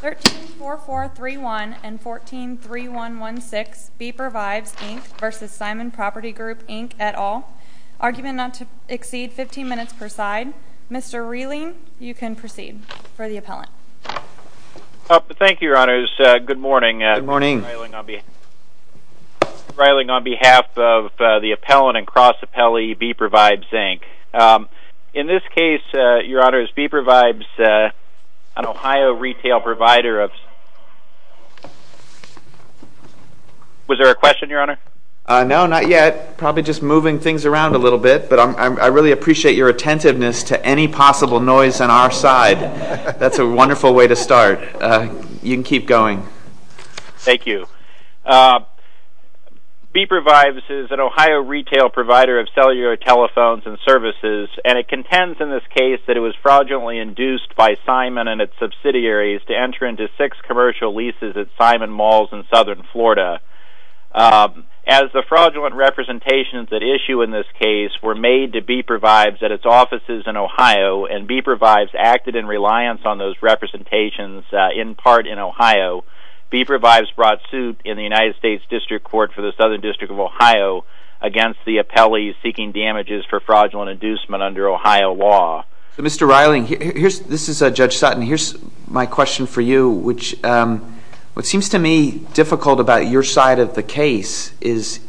134431 and 143116, Beeper Vibes Inc v. Simon Property Group Inc, et al. Argument not to exceed 15 minutes per side. Mr. Reiling, you can proceed for the appellant. Thank you, Your Honors. Good morning. Good morning. Mr. Reiling, on behalf of the appellant and cross-appellee, Beeper Vibes Inc. In this case, Your Honors, Beeper Vibes, an Ohio retail provider of... Was there a question, Your Honor? No, not yet. Probably just moving things around a little bit, but I really appreciate your attentiveness to any possible noise on our side. That's a wonderful way to start. You can keep going. Thank you. Beeper Vibes is an Ohio retail provider of cellular telephones and services, and it contends in this case that it was fraudulently induced by Simon and its subsidiaries to enter into six commercial leases at Simon Malls in southern Florida. As the fraudulent representations at issue in this case were made to Beeper Vibes at its offices in Ohio, and Beeper Vibes acted in reliance on those representations in part in Ohio, Beeper Vibes brought suit in the United States District Court for the Southern District of Ohio against the appellee seeking damages for fraudulent inducement under Ohio law. Mr. Reiling, this is Judge Sutton. Here's my question for you. What seems to me difficult about your side of the case is,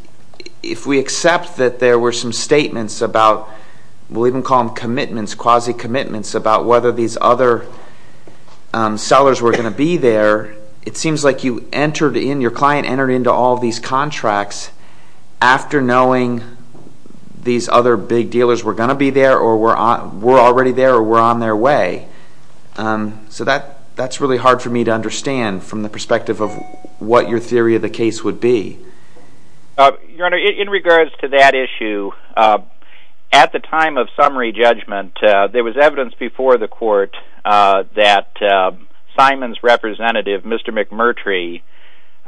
if we accept that there were some statements about, we'll even call them commitments, quasi-commitments, about whether these other sellers were going to be there, it seems like you entered in, your client entered into all these contracts after knowing these other big dealers were going to be there or were already there or were on their way. So that's really hard for me to understand from the perspective of what your theory of the case would be. Your Honor, in regards to that issue, at the time of summary judgment, there was evidence before the court that Simon's representative, Mr. McMurtry,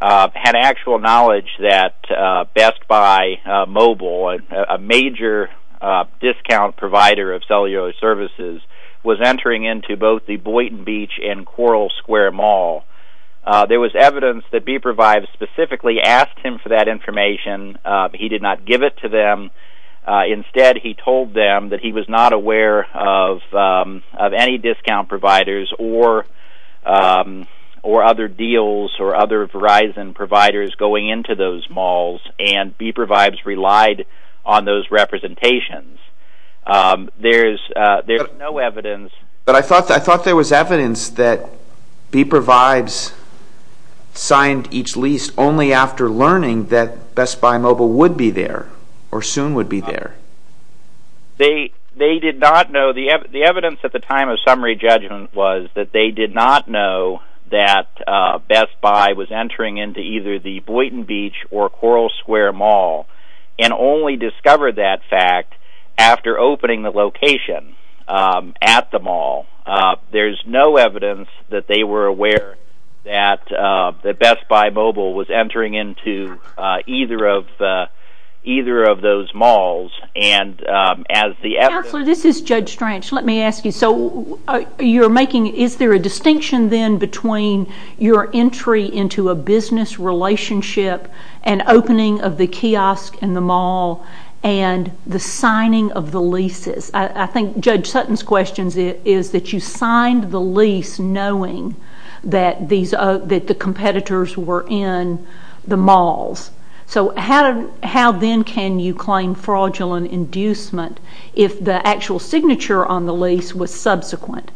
had actual knowledge that Best Buy Mobile, a major discount provider of cellular services, was entering into both the Boynton Beach and Coral Square Mall. There was evidence that Beeper Vibes specifically asked him for that information. He did not give it to them. Instead, he told them that he was not aware of any discount providers or other deals or other Verizon providers going into those malls, and Beeper Vibes relied on those representations. There's no evidence... But I thought there was evidence that Beeper Vibes signed each lease only after learning that Best Buy Mobile would be there or soon would be there. They did not know... The evidence at the time of summary judgment was that they did not know that Best Buy was entering into either the Boynton Beach or Coral Square Mall and only discovered that fact after opening the location at the mall. There's no evidence that they were aware that Best Buy Mobile was entering into either of those malls. And as the evidence... Counselor, this is Judge Stranch. Let me ask you. So you're making... Is there a distinction then between your entry into a business relationship and opening of the kiosk and the mall and the signing of the leases? I think Judge Sutton's question is that you signed the lease knowing that the competitors were in the malls. So how then can you claim fraudulent inducement if the actual signature on the lease was subsequent?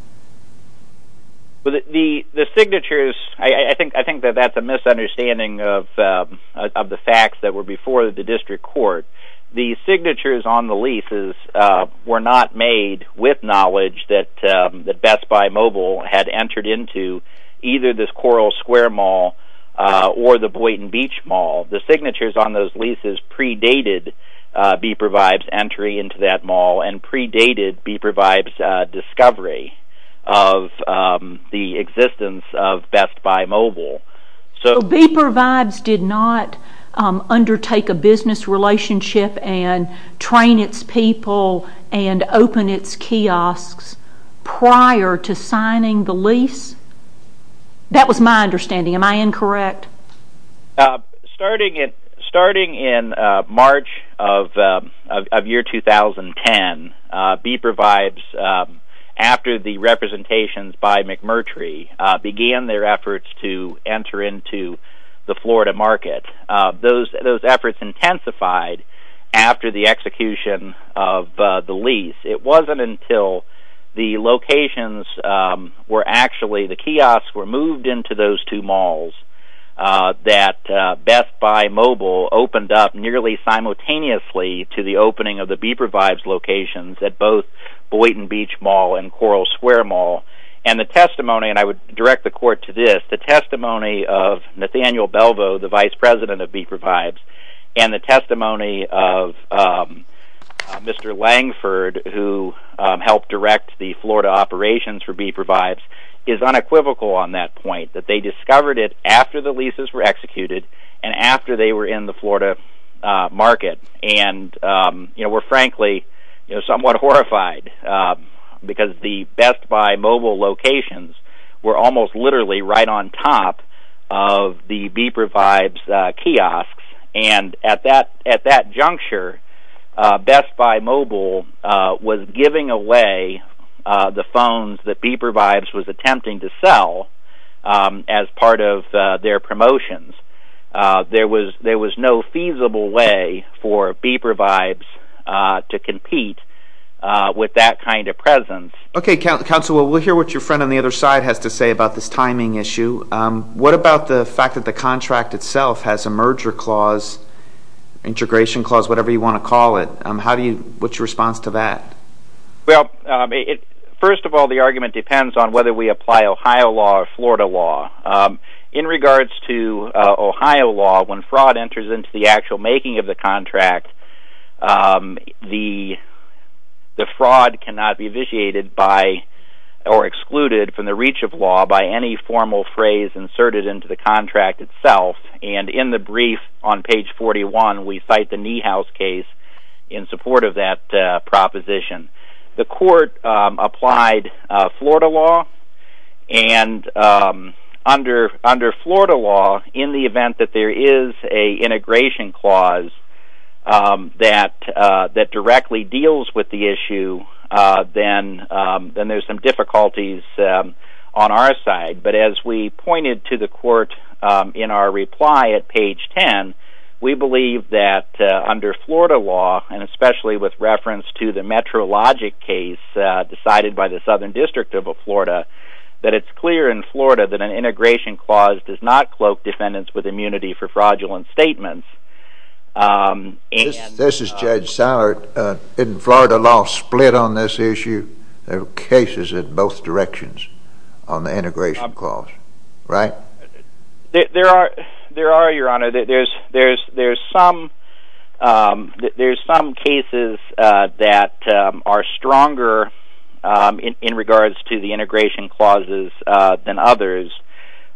The signatures... I think that that's a misunderstanding of the facts that were before the district court. The signatures on the leases were not made with knowledge that Best Buy Mobile had entered into either the Coral Square Mall or the Boynton Beach Mall. The signatures on those leases predated Beeper Vibe's entry into that mall and predated Beeper Vibe's discovery of the existence of Best Buy Mobile. So Beeper Vibe's did not undertake a business relationship and train its people and open its kiosks prior to signing the lease? That was my understanding. Am I incorrect? Starting in March of year 2010, Beeper Vibe's, after the representations by McMurtry, began their efforts to enter into the Florida market. Those efforts intensified after the execution of the lease. It wasn't until the locations were actually... the kiosks were moved into those two malls that Best Buy Mobile opened up nearly simultaneously to the opening of the Beeper Vibe's locations at both Boynton Beach Mall and Coral Square Mall. And the testimony, and I would direct the court to this, the testimony of Nathaniel Belvo, the vice president of Beeper Vibe's, and the testimony of Mr. Langford, who helped direct the Florida operations for Beeper Vibe's, is unequivocal on that point, that they discovered it after the leases were executed and after they were in the Florida market and were frankly somewhat horrified because the Best Buy Mobile locations were almost literally right on top of the Beeper Vibe's kiosks. And at that juncture, Best Buy Mobile was giving away the phones that Beeper Vibe's was attempting to sell as part of their promotions. There was no feasible way for Beeper Vibe's to compete with that kind of presence. Okay, counsel, we'll hear what your friend on the other side has to say about this timing issue. What about the fact that the contract itself has a merger clause, integration clause, whatever you want to call it? What's your response to that? Well, first of all, the argument depends on whether we apply Ohio law or Florida law. In regards to Ohio law, when fraud enters into the actual making of the contract, the fraud cannot be vitiated by or excluded from the reach of law by any formal phrase inserted into the contract itself. And in the brief on page 41, we cite the Niehaus case in support of that proposition. The court applied Florida law and under Florida law, in the event that there is an integration clause, that directly deals with the issue, then there's some difficulties on our side. But as we pointed to the court in our reply at page 10, we believe that under Florida law, and especially with reference to the Metrologic case decided by the Southern District of Florida, that it's clear in Florida that an integration clause does not cloak defendants with immunity for fraudulent statements. This is Judge Sallert. Isn't Florida law split on this issue? There are cases in both directions on the integration clause, right? There are, Your Honor. There's some cases that are stronger in regards to the integration clauses than others,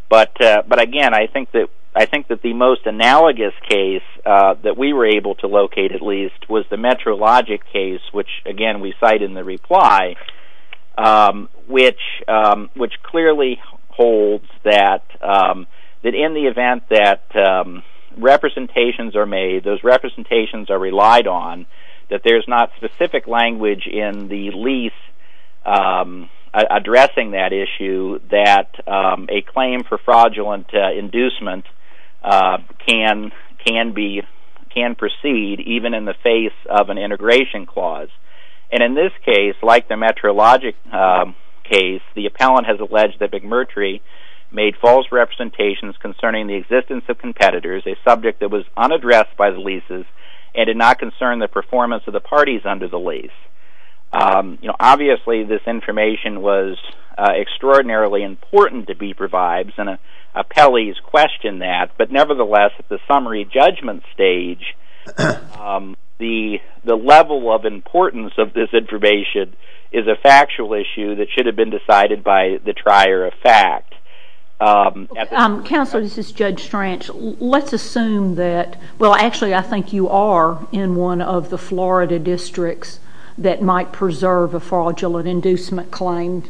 but, again, I think that the most analogous case that we were able to locate, at least, was the Metrologic case, which, again, we cite in the reply, which clearly holds that in the event that representations are made, those representations are relied on, that there's not specific language in the lease addressing that issue that a claim for fraudulent inducement can proceed even in the face of an integration clause. And in this case, like the Metrologic case, the appellant has alleged that McMurtry made false representations concerning the existence of competitors, a subject that was unaddressed by the leases, and did not concern the performance of the parties under the lease. Obviously, this information was extraordinarily important to be provided, and appellees questioned that, but, nevertheless, at the summary judgment stage, the level of importance of this information is a factual issue that should have been decided by the trier of fact. Counselor, this is Judge Stranch. Let's assume that, well, actually, I think you are in one of the Florida districts that might preserve a fraudulent inducement claim.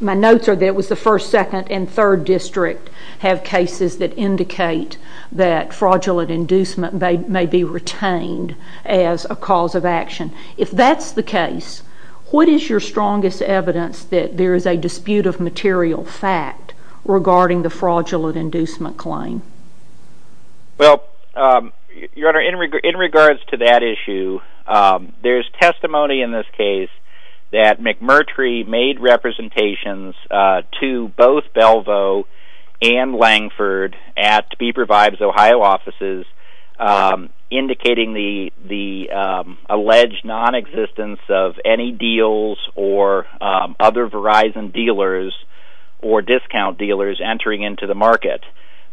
My notes are that it was the 1st, 2nd, and 3rd district have cases that indicate that fraudulent inducement may be retained as a cause of action. If that's the case, what is your strongest evidence that there is a dispute of material fact regarding the fraudulent inducement claim? Well, Your Honor, in regards to that issue, there is testimony in this case that McMurtry made representations to both Belvo and Langford at Beeper Vibes Ohio offices indicating the alleged nonexistence of any deals or other Verizon dealers or discount dealers entering into the market.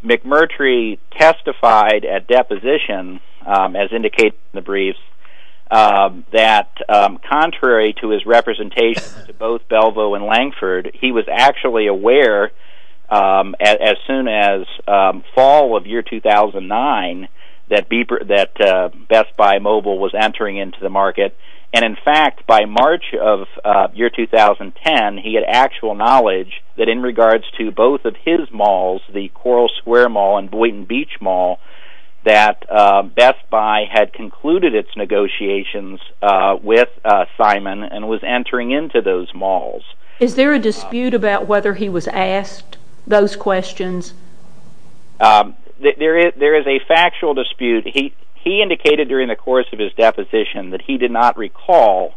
McMurtry testified at deposition, as indicated in the brief, that contrary to his representations to both Belvo and Langford, he was actually aware as soon as fall of year 2009 that Best Buy Mobile was entering into the market. And in fact, by March of year 2010, he had actual knowledge that in regards to both of his malls, the Coral Square Mall and Boynton Beach Mall, that Best Buy had concluded its negotiations with Simon and was entering into those malls. Is there a dispute about whether he was asked those questions? There is a factual dispute. He indicated during the course of his deposition that he did not recall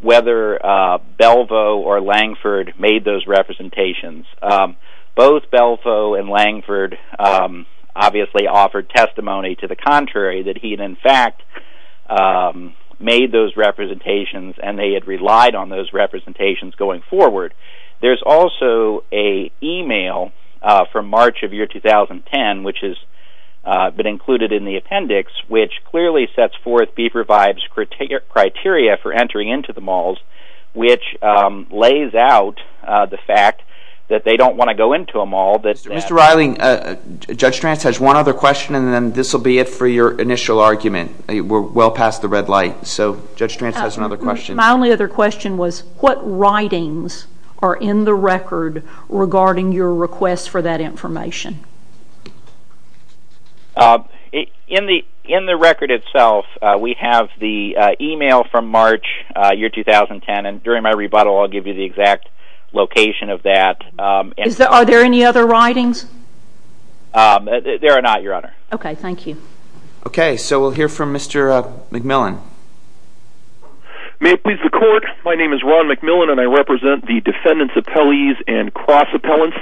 whether Belvo or Langford made those representations. Both Belvo and Langford obviously offered testimony to the contrary that he had in fact made those representations and they had relied on those representations going forward. There's also an email from March of year 2010 which has been included in the appendix which clearly sets forth Beeper Vibes' criteria for entering into the malls which lays out the fact that they don't want to go into a mall. Mr. Reiling, Judge Trantz has one other question and then this will be it for your initial argument. We're well past the red light. So Judge Trantz has another question. My only other question was what writings are in the record regarding your request for that information? In the record itself, we have the email from March year 2010 and during my rebuttal I'll give you the exact location of that. Are there any other writings? There are not, Your Honor. Okay, thank you. Okay, so we'll hear from Mr. McMillan. May it please the Court. My name is Ron McMillan and I represent the defendants' appellees and cross-appellants.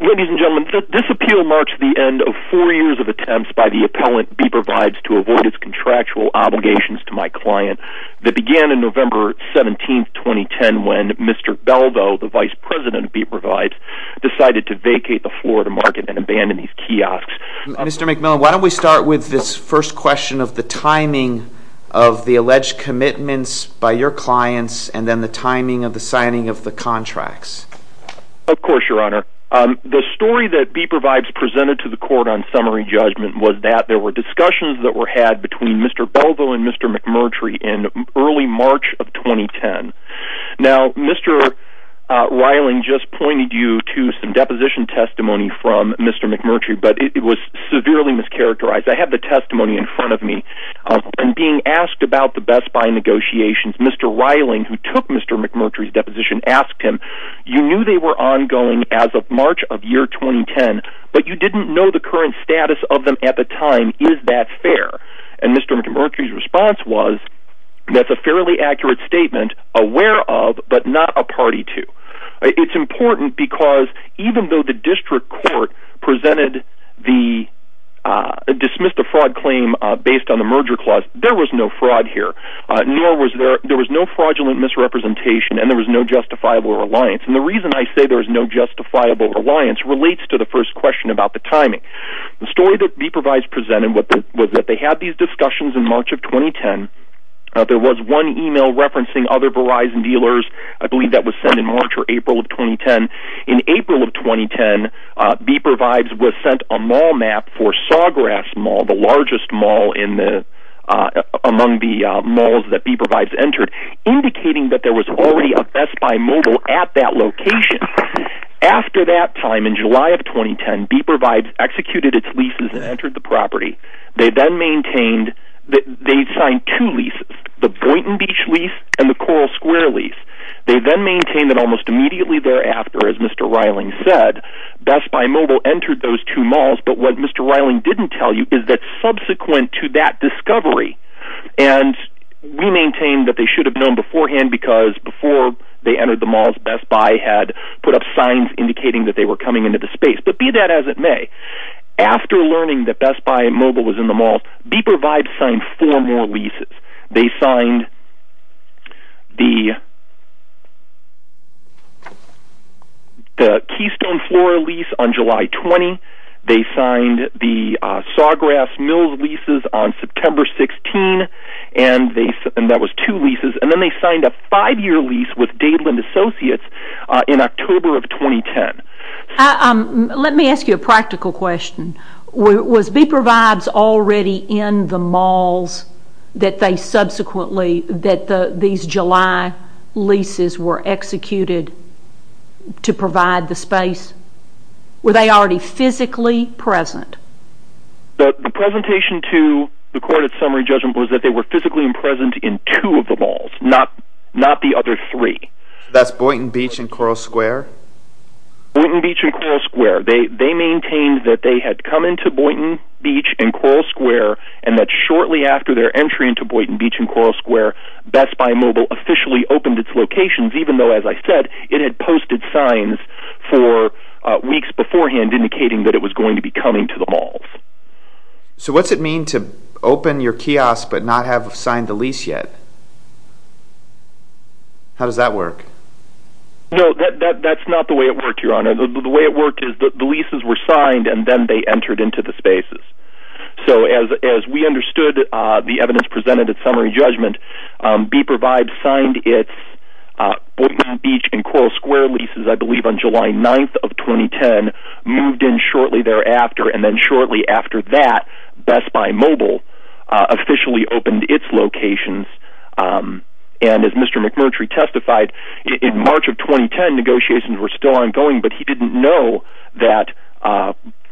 Ladies and gentlemen, this appeal marks the end of four years of attempts by the appellant Beeper Vibes to avoid his contractual obligations to my client that began in November 17, 2010 when Mr. Beldo, the vice president of Beeper Vibes, decided to vacate the Florida market and abandon these kiosks. Mr. McMillan, why don't we start with this first question of the timing of the alleged commitments by your clients and then the timing of the signing of the contracts. Of course, Your Honor. The story that Beeper Vibes presented to the Court on summary judgment was that there were discussions that were had between Mr. Beldo and Mr. McMurtry in early March of 2010. Now, Mr. Reiling just pointed you to some deposition testimony from Mr. McMurtry, but it was severely mischaracterized. I have the testimony in front of me. In being asked about the Best Buy negotiations, Mr. Reiling, who took Mr. McMurtry's deposition, asked him, you knew they were ongoing as of March of year 2010, but you didn't know the current status of them at the time. Is that fair? And Mr. McMurtry's response was, that's a fairly accurate statement, aware of, but not a party to. It's important because even though the district court presented the dismiss the fraud claim based on the merger clause, there was no fraud here, nor was there, there was no fraudulent misrepresentation, and there was no justifiable reliance. And the reason I say there was no justifiable reliance relates to the first question about the timing. The story that Beeper Vibes presented was that they had these discussions in March of 2010. There was one email referencing other Verizon dealers. I believe that was sent in March or April of 2010. In April of 2010, Beeper Vibes was sent a mall map for Sawgrass Mall, the largest mall among the malls that Beeper Vibes entered, indicating that there was already a Best Buy mobile at that location. After that time, in July of 2010, Beeper Vibes executed its leases and entered the property. They then maintained, they signed two leases, the Boynton Beach lease and the Coral Square lease. They then maintained that almost immediately thereafter, as Mr. Reiling said, Best Buy mobile entered those two malls, but what Mr. Reiling didn't tell you is that subsequent to that discovery, and we maintain that they should have known beforehand because before they entered the malls, Best Buy had put up signs indicating that they were coming into the space, but be that as it may, after learning that Best Buy mobile was in the malls, Beeper Vibes signed four more leases. They signed the Keystone Floor lease on July 20. They signed the Sawgrass Mills leases on September 16, and that was two leases. Then they signed a five-year lease with Dayland Associates in October of 2010. Let me ask you a practical question. Was Beeper Vibes already in the malls that these July leases were executed to provide the space? Were they already physically present? The presentation to the court at summary judgment was that they were physically present in two of the malls, not the other three. That's Boynton Beach and Coral Square? Boynton Beach and Coral Square. They maintained that they had come into Boynton Beach and Coral Square and that shortly after their entry into Boynton Beach and Coral Square, Best Buy mobile officially opened its locations, even though, as I said, it had posted signs for weeks beforehand indicating that it was going to be coming to the malls. So what does it mean to open your kiosk but not have signed the lease yet? How does that work? No, that's not the way it worked, Your Honor. The way it worked is that the leases were signed and then they entered into the spaces. So as we understood the evidence presented at summary judgment, Beeper Vibes signed its Boynton Beach and Coral Square leases, I believe, on July 9th of 2010, moved in shortly thereafter, and then shortly after that, Best Buy mobile officially opened its locations. And as Mr. McMurtry testified, in March of 2010 negotiations were still ongoing, but he didn't know that...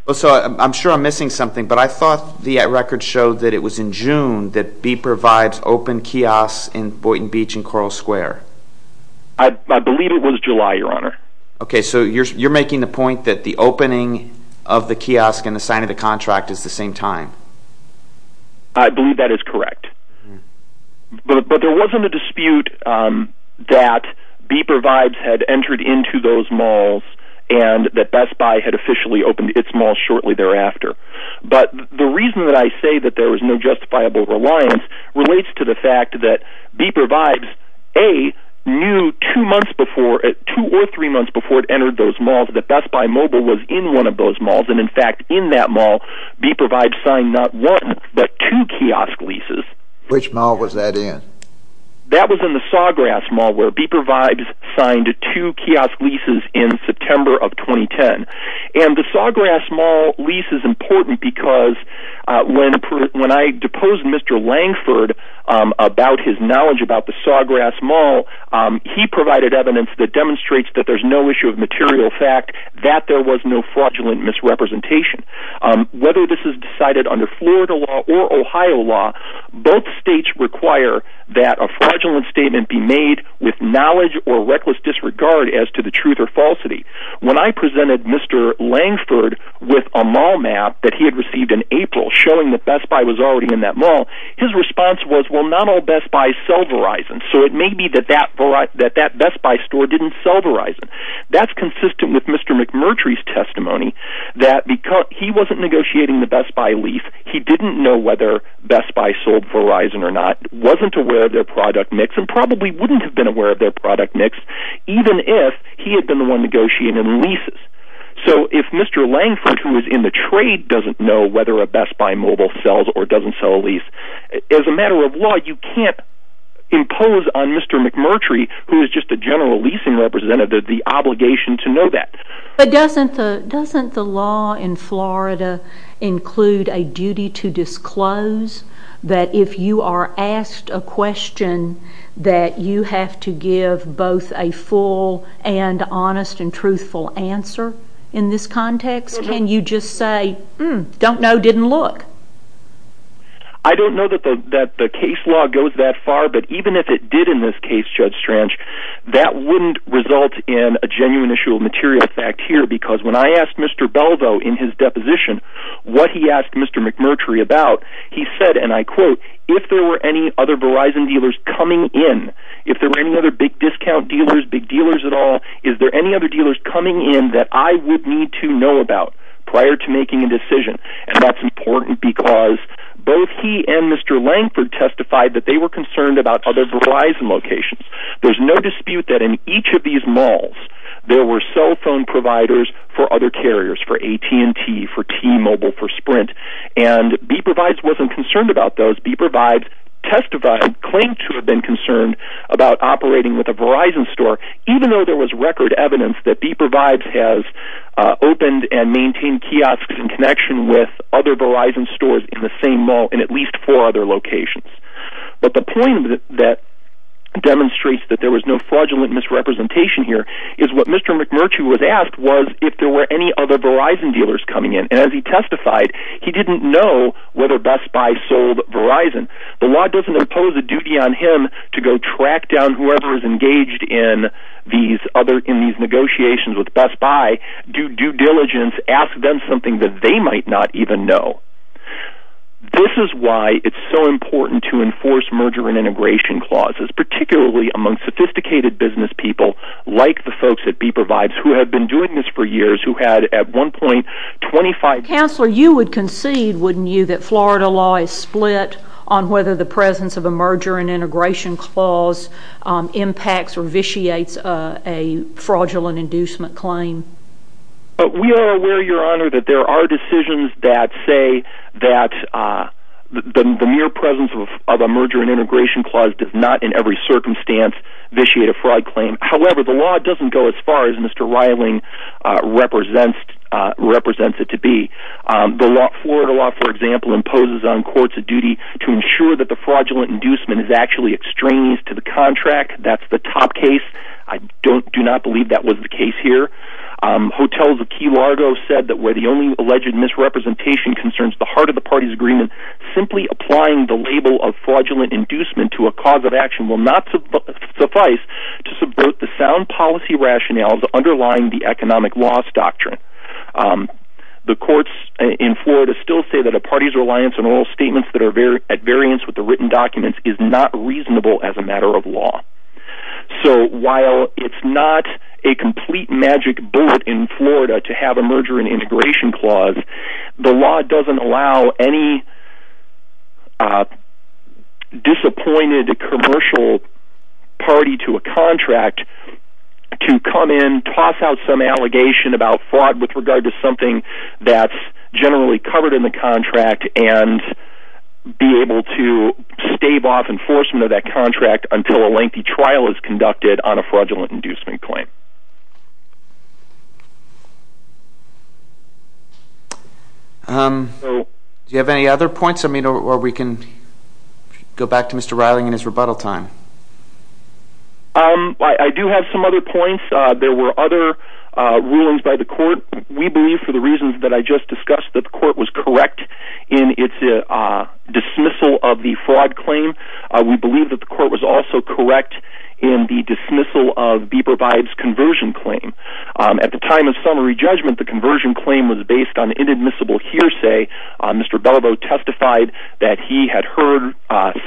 I'm sure I'm missing something, but I thought the records showed that it was in June that Beeper Vibes opened kiosks in Boynton Beach and Coral Square. I believe it was July, Your Honor. Okay, so you're making the point that the opening of the kiosk and the signing of the contract is the same time. I believe that is correct. But there wasn't a dispute that Beeper Vibes had entered into those malls and that Best Buy had officially opened its malls shortly thereafter. But the reason that I say that there was no justifiable reliance relates to the fact that Beeper Vibes, A, knew two or three months before it entered those malls that Best Buy mobile was in one of those malls. And, in fact, in that mall, Beeper Vibes signed not one but two kiosk leases. Which mall was that in? That was in the Sawgrass Mall, where Beeper Vibes signed two kiosk leases in September of 2010. And the Sawgrass Mall lease is important because when I deposed Mr. Langford about his knowledge about the Sawgrass Mall, he provided evidence that demonstrates that there's no issue of material fact, that there was no fraudulent misrepresentation. Whether this is decided under Florida law or Ohio law, both states require that a fraudulent statement be made with knowledge or reckless disregard as to the truth or falsity. When I presented Mr. Langford with a mall map that he had received in April showing that Best Buy was already in that mall, his response was, well, not all Best Buys sell Verizon. So it may be that that Best Buy store didn't sell Verizon. That's consistent with Mr. McMurtry's testimony that he wasn't negotiating the Best Buy lease. He didn't know whether Best Buy sold Verizon or not, wasn't aware of their product mix, and probably wouldn't have been aware of their product mix even if he had been the one negotiating the leases. So if Mr. Langford, who was in the trade, doesn't know whether a Best Buy mobile sells or doesn't sell a lease, as a matter of law, you can't impose on Mr. McMurtry, who is just a general leasing representative, the obligation to know that. But doesn't the law in Florida include a duty to disclose that if you are asked a question, that you have to give both a full and honest and truthful answer in this context? Can you just say, hmm, don't know, didn't look? I don't know that the case law goes that far, but even if it did in this case, Judge Strange, that wouldn't result in a genuine issue of material fact here, because when I asked Mr. Beldo in his deposition what he asked Mr. McMurtry about, he said, and I quote, if there were any other Verizon dealers coming in, if there were any other big discount dealers, big dealers at all, is there any other dealers coming in that I would need to know about prior to making a decision? And that's important because both he and Mr. Langford testified that they were concerned about other Verizon locations. There's no dispute that in each of these malls, there were cell phone providers for other carriers, for AT&T, for T-Mobile, for Sprint. And B-Provides wasn't concerned about those. B-Provides testified, claimed to have been concerned about operating with a Verizon store, even though there was record evidence that B-Provides has opened and maintained kiosks in connection with other Verizon stores in the same mall in at least four other locations. But the point that demonstrates that there was no fraudulent misrepresentation here is what Mr. McMurtry was asked was if there were any other Verizon dealers coming in. And as he testified, he didn't know whether Best Buy sold Verizon. The law doesn't impose a duty on him to go track down whoever is engaged in these negotiations with Best Buy, do due diligence, ask them something that they might not even know. This is why it's so important to enforce merger and integration clauses, particularly among sophisticated business people like the folks at B-Provides who have been doing this for years, who had at one point 25- Counselor, you would concede, wouldn't you, that Florida law is split on whether the presence of a merger and integration clause impacts or vitiates a fraudulent inducement claim? We are aware, Your Honor, that there are decisions that say that the mere presence of a merger and integration clause does not in every circumstance vitiate a fraud claim. However, the law doesn't go as far as Mr. Reiling represents it to be. Florida law, for example, imposes on courts a duty to ensure that a fraudulent inducement is actually extraneous to the contract. That's the top case. I do not believe that was the case here. Hotels of Key Largo said that where the only alleged misrepresentation concerns the heart of the party's agreement, simply applying the label of fraudulent inducement to a cause of action will not suffice to subvert the sound policy rationales underlying the economic loss doctrine. The courts in Florida still say that a party's reliance on oral statements that are at variance with the written documents is not reasonable as a matter of law. So while it's not a complete magic bullet in Florida to have a merger and integration clause, the law doesn't allow any disappointed commercial party to a contract to come in, toss out some allegation about fraud with regard to something that's generally covered in the contract, and be able to stave off enforcement of that contract until a lengthy trial is conducted on a fraudulent inducement claim. Do you have any other points? Or we can go back to Mr. Reiling and his rebuttal time. I do have some other points. There were other rulings by the court. We believe, for the reasons that I just discussed, that the court was correct in its dismissal of the fraud claim. We believe that the court was also correct in the dismissal of Bieber-Bibes' conversion claim. At the time of summary judgment, the conversion claim was based on inadmissible hearsay. Mr. Belobo testified that he had heard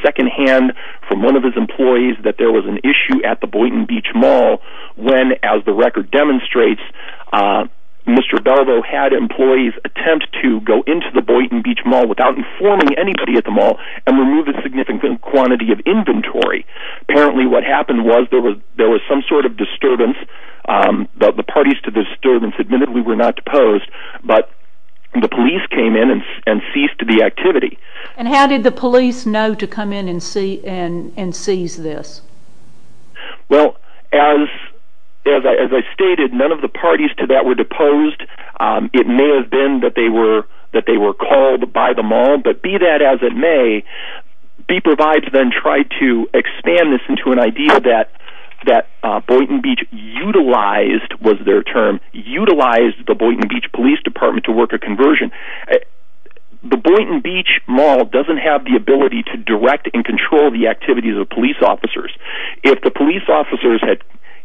secondhand from one of his employees that there was an issue at the Boynton Beach Mall when, as the record demonstrates, Mr. Belobo had employees attempt to go into the Boynton Beach Mall without informing anybody at the mall and remove a significant quantity of inventory. Apparently what happened was there was some sort of disturbance. The parties to the disturbance admittedly were not deposed, but the police came in and ceased the activity. And how did the police know to come in and seize this? Well, as I stated, none of the parties to that were deposed. It may have been that they were called by the mall, but be that as it may, Bieber-Bibes then tried to expand this into an idea that Boynton Beach utilized, was their term, utilized the Boynton Beach Police Department to work a conversion. The Boynton Beach Mall doesn't have the ability to direct and control the activities of police officers. If the police officers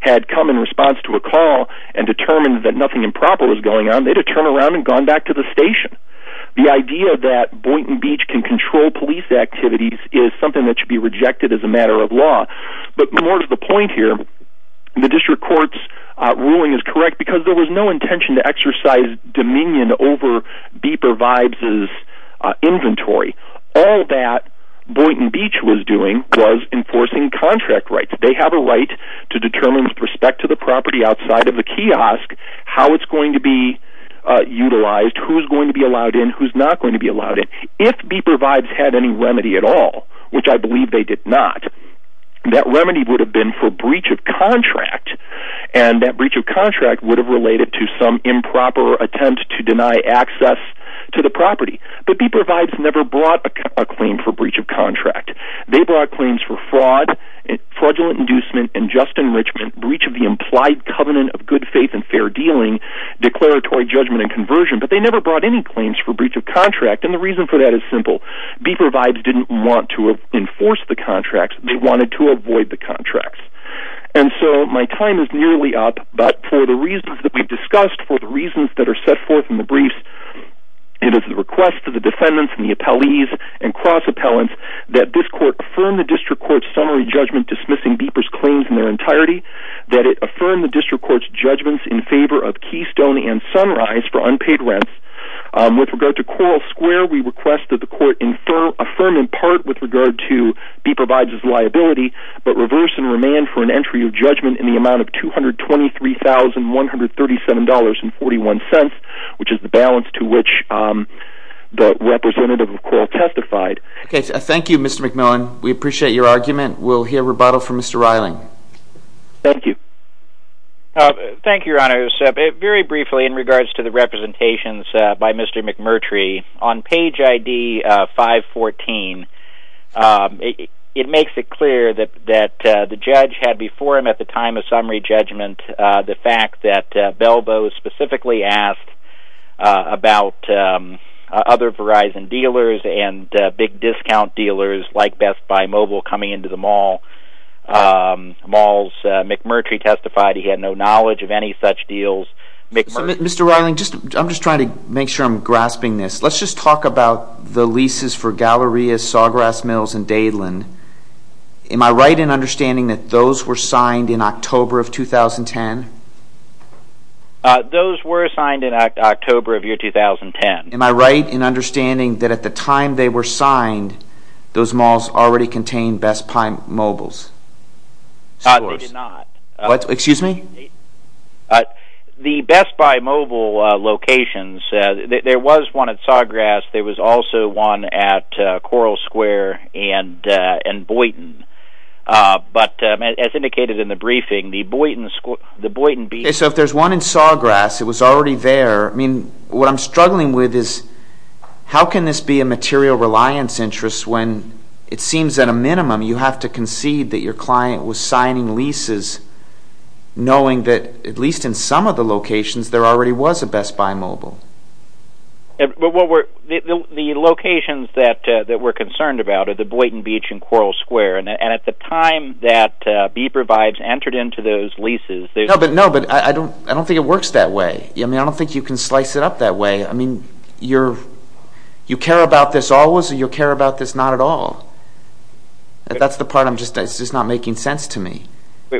had come in response to a call and determined that nothing improper was going on, they'd have turned around and gone back to the station. The idea that Boynton Beach can control police activities is something that should be rejected as a matter of law. But more to the point here, the district court's ruling is correct because there was no intention to exercise dominion over Bieber-Bibes' inventory. All that Boynton Beach was doing was enforcing contract rights. They have a right to determine with respect to the property outside of the kiosk how it's going to be utilized, who's going to be allowed in, who's not going to be allowed in. If Bieber-Bibes had any remedy at all, which I believe they did not, that remedy would have been for breach of contract, and that breach of contract would have related to some improper attempt to deny access to the property. But Bieber-Bibes never brought a claim for breach of contract. They brought claims for fraud, fraudulent inducement, unjust enrichment, breach of the implied covenant of good faith and fair dealing, declaratory judgment and conversion, but they never brought any claims for breach of contract. And the reason for that is simple. Bieber-Bibes didn't want to enforce the contracts. They wanted to avoid the contracts. And so my time is nearly up, but for the reasons that we've discussed, for the reasons that are set forth in the briefs, it is the request of the defendants and the appellees and cross-appellants that this court affirm the district court's summary judgment dismissing Bieber-Bibes' claims in their entirety, that it affirm the district court's judgments in favor of Keystone and Sunrise for unpaid rents. With regard to Coral Square, we request that the court affirm in part with regard to Bieber-Bibes' liability, but reverse and remand for an entry of judgment in the amount of $223,137.41, which is the balance to which the representative of Coral testified. Thank you, Mr. McMillan. We appreciate your argument. We'll hear rebuttal from Mr. Reiling. Thank you. Thank you, Your Honor. Very briefly in regards to the representations by Mr. McMurtry, on page ID 514, it makes it clear that the judge had before him at the time of summary judgment the fact that Belbo specifically asked about other Verizon dealers and big discount dealers like Best Buy Mobile coming into the mall. McMurtry testified he had no knowledge of any such deals. Mr. Reiling, I'm just trying to make sure I'm grasping this. Let's just talk about the leases for Galleria, Sawgrass Mills, and Dadeland. Am I right in understanding that those were signed in October of 2010? Those were signed in October of the year 2010. Am I right in understanding that at the time they were signed, those malls already contained Best Buy Mobiles? They did not. Excuse me? The Best Buy Mobile locations, there was one at Sawgrass. There was also one at Coral Square and Boynton. But as indicated in the briefing, the Boynton B- So if there's one in Sawgrass, it was already there. I mean, what I'm struggling with is how can this be a material reliance interest when it seems at a minimum you have to concede that your client was signing leases knowing that at least in some of the locations there already was a Best Buy Mobile? Well, the locations that we're concerned about are the Boynton Beach and Coral Square. And at the time that B-Provides entered into those leases- No, but I don't think it works that way. I mean, I don't think you can slice it up that way. I mean, you care about this always or you care about this not at all? That's the part that's just not making sense to me.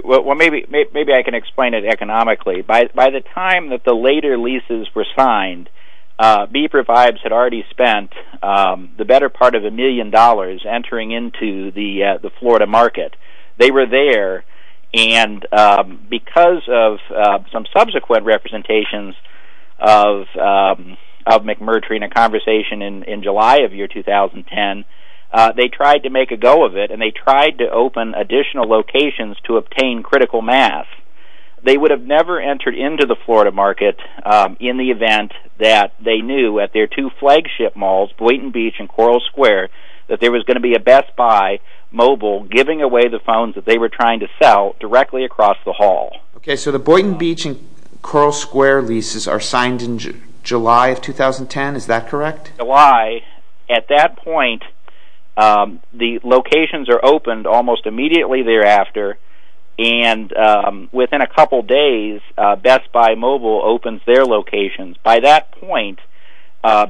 Well, maybe I can explain it economically. By the time that the later leases were signed, B-Provides had already spent the better part of a million dollars entering into the Florida market. They were there, and because of some subsequent representations of McMurtry in a conversation in July of year 2010, they tried to make a go of it and they tried to open additional locations to obtain critical mass. They would have never entered into the Florida market in the event that they knew at their two flagship malls, Boynton Beach and Coral Square, that there was going to be a Best Buy Mobile giving away the phones that they were trying to sell directly across the hall. Okay, so the Boynton Beach and Coral Square leases are signed in July of 2010. Is that correct? July. At that point, the locations are opened almost immediately thereafter and within a couple of days, Best Buy Mobile opens their locations. By that point,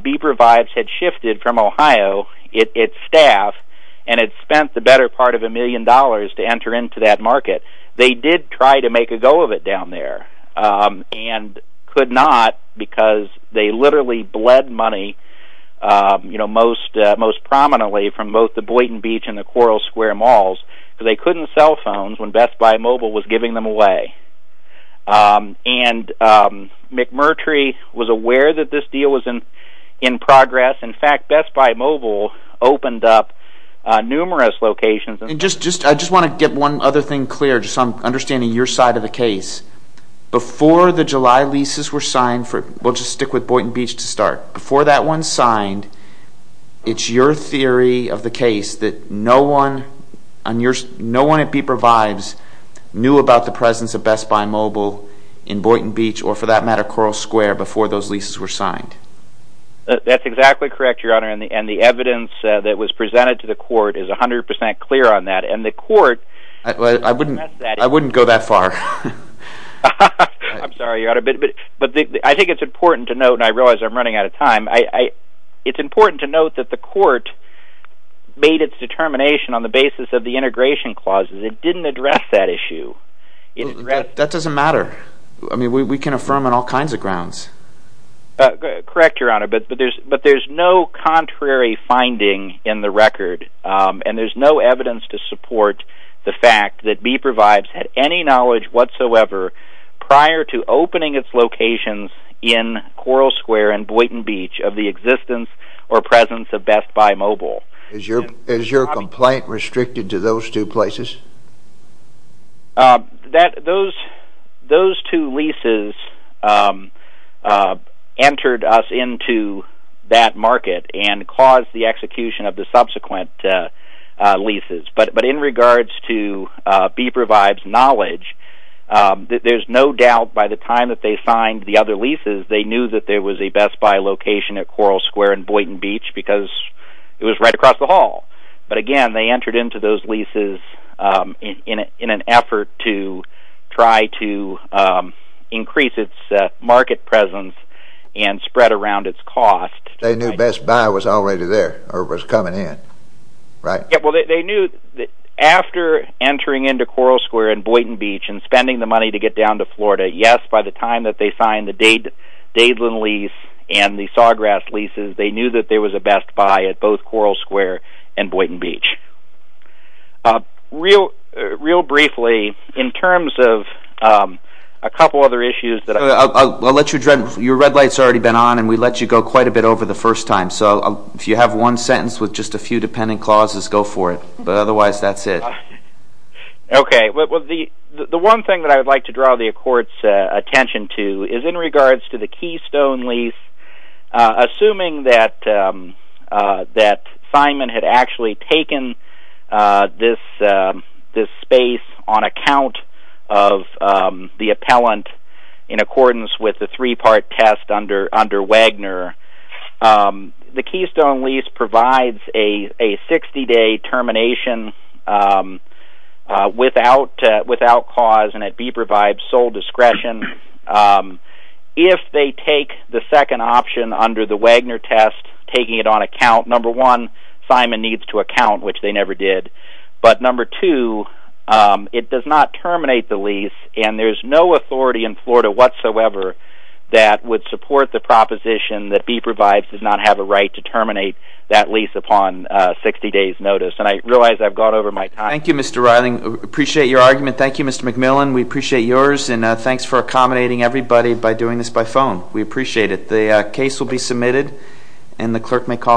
B-Provides had shifted from Ohio its staff and had spent the better part of a million dollars to enter into that market. They did try to make a go of it down there and could not because they literally bled money most prominently from both the Boynton Beach and the Coral Square malls. They couldn't sell phones when Best Buy Mobile was giving them away. And McMurtry was aware that this deal was in progress. In fact, Best Buy Mobile opened up numerous locations. I just want to get one other thing clear, just so I'm understanding your side of the case. Before the July leases were signed, we'll just stick with Boynton Beach to start. Before that one signed, it's your theory of the case that no one at B-Provides knew about the presence of Best Buy Mobile in Boynton Beach or, for that matter, Coral Square before those leases were signed? That's exactly correct, Your Honor. And the evidence that was presented to the court is 100% clear on that. And the court— I'm sorry, Your Honor. I think it's important to note, and I realize I'm running out of time. It's important to note that the court made its determination on the basis of the integration clauses. It didn't address that issue. That doesn't matter. I mean, we can affirm on all kinds of grounds. Correct, Your Honor, but there's no contrary finding in the record, and there's no evidence to support the fact that B-Provides had any knowledge whatsoever prior to opening its locations in Coral Square and Boynton Beach of the existence or presence of Best Buy Mobile. Is your complaint restricted to those two places? Those two leases entered us into that market and caused the execution of the subsequent leases. But in regards to B-Provides' knowledge, there's no doubt by the time that they signed the other leases, they knew that there was a Best Buy location at Coral Square and Boynton Beach because it was right across the hall. But again, they entered into those leases in an effort to try to increase its market presence and spread around its cost. They knew Best Buy was already there or was coming in, right? Well, they knew that after entering into Coral Square and Boynton Beach and spending the money to get down to Florida, yes, by the time that they signed the Dadeland lease and the Sawgrass leases, they knew that there was a Best Buy at both Coral Square and Boynton Beach. Real briefly, in terms of a couple other issues that I... I'll let you address. Your red light's already been on, and we let you go quite a bit over the first time. So if you have one sentence with just a few dependent clauses, go for it. But otherwise, that's it. Okay. The one thing that I would like to draw the Court's attention to is in regards to the Keystone lease, assuming that Simon had actually taken this space on account of the appellant in accordance with the three-part test under Wagner, the Keystone lease provides a 60-day termination without cause, and it provides sole discretion. If they take the second option under the Wagner test, taking it on account, number one, Simon needs to account, which they never did. And there's no authority in Florida whatsoever that would support the proposition that B-Provides does not have a right to terminate that lease upon a 60-day notice. And I realize I've gone over my time. Thank you, Mr. Reiling. Appreciate your argument. Thank you, Mr. McMillan. We appreciate yours, and thanks for accommodating everybody by doing this by phone. We appreciate it. The case will be submitted, and the Clerk may call to order.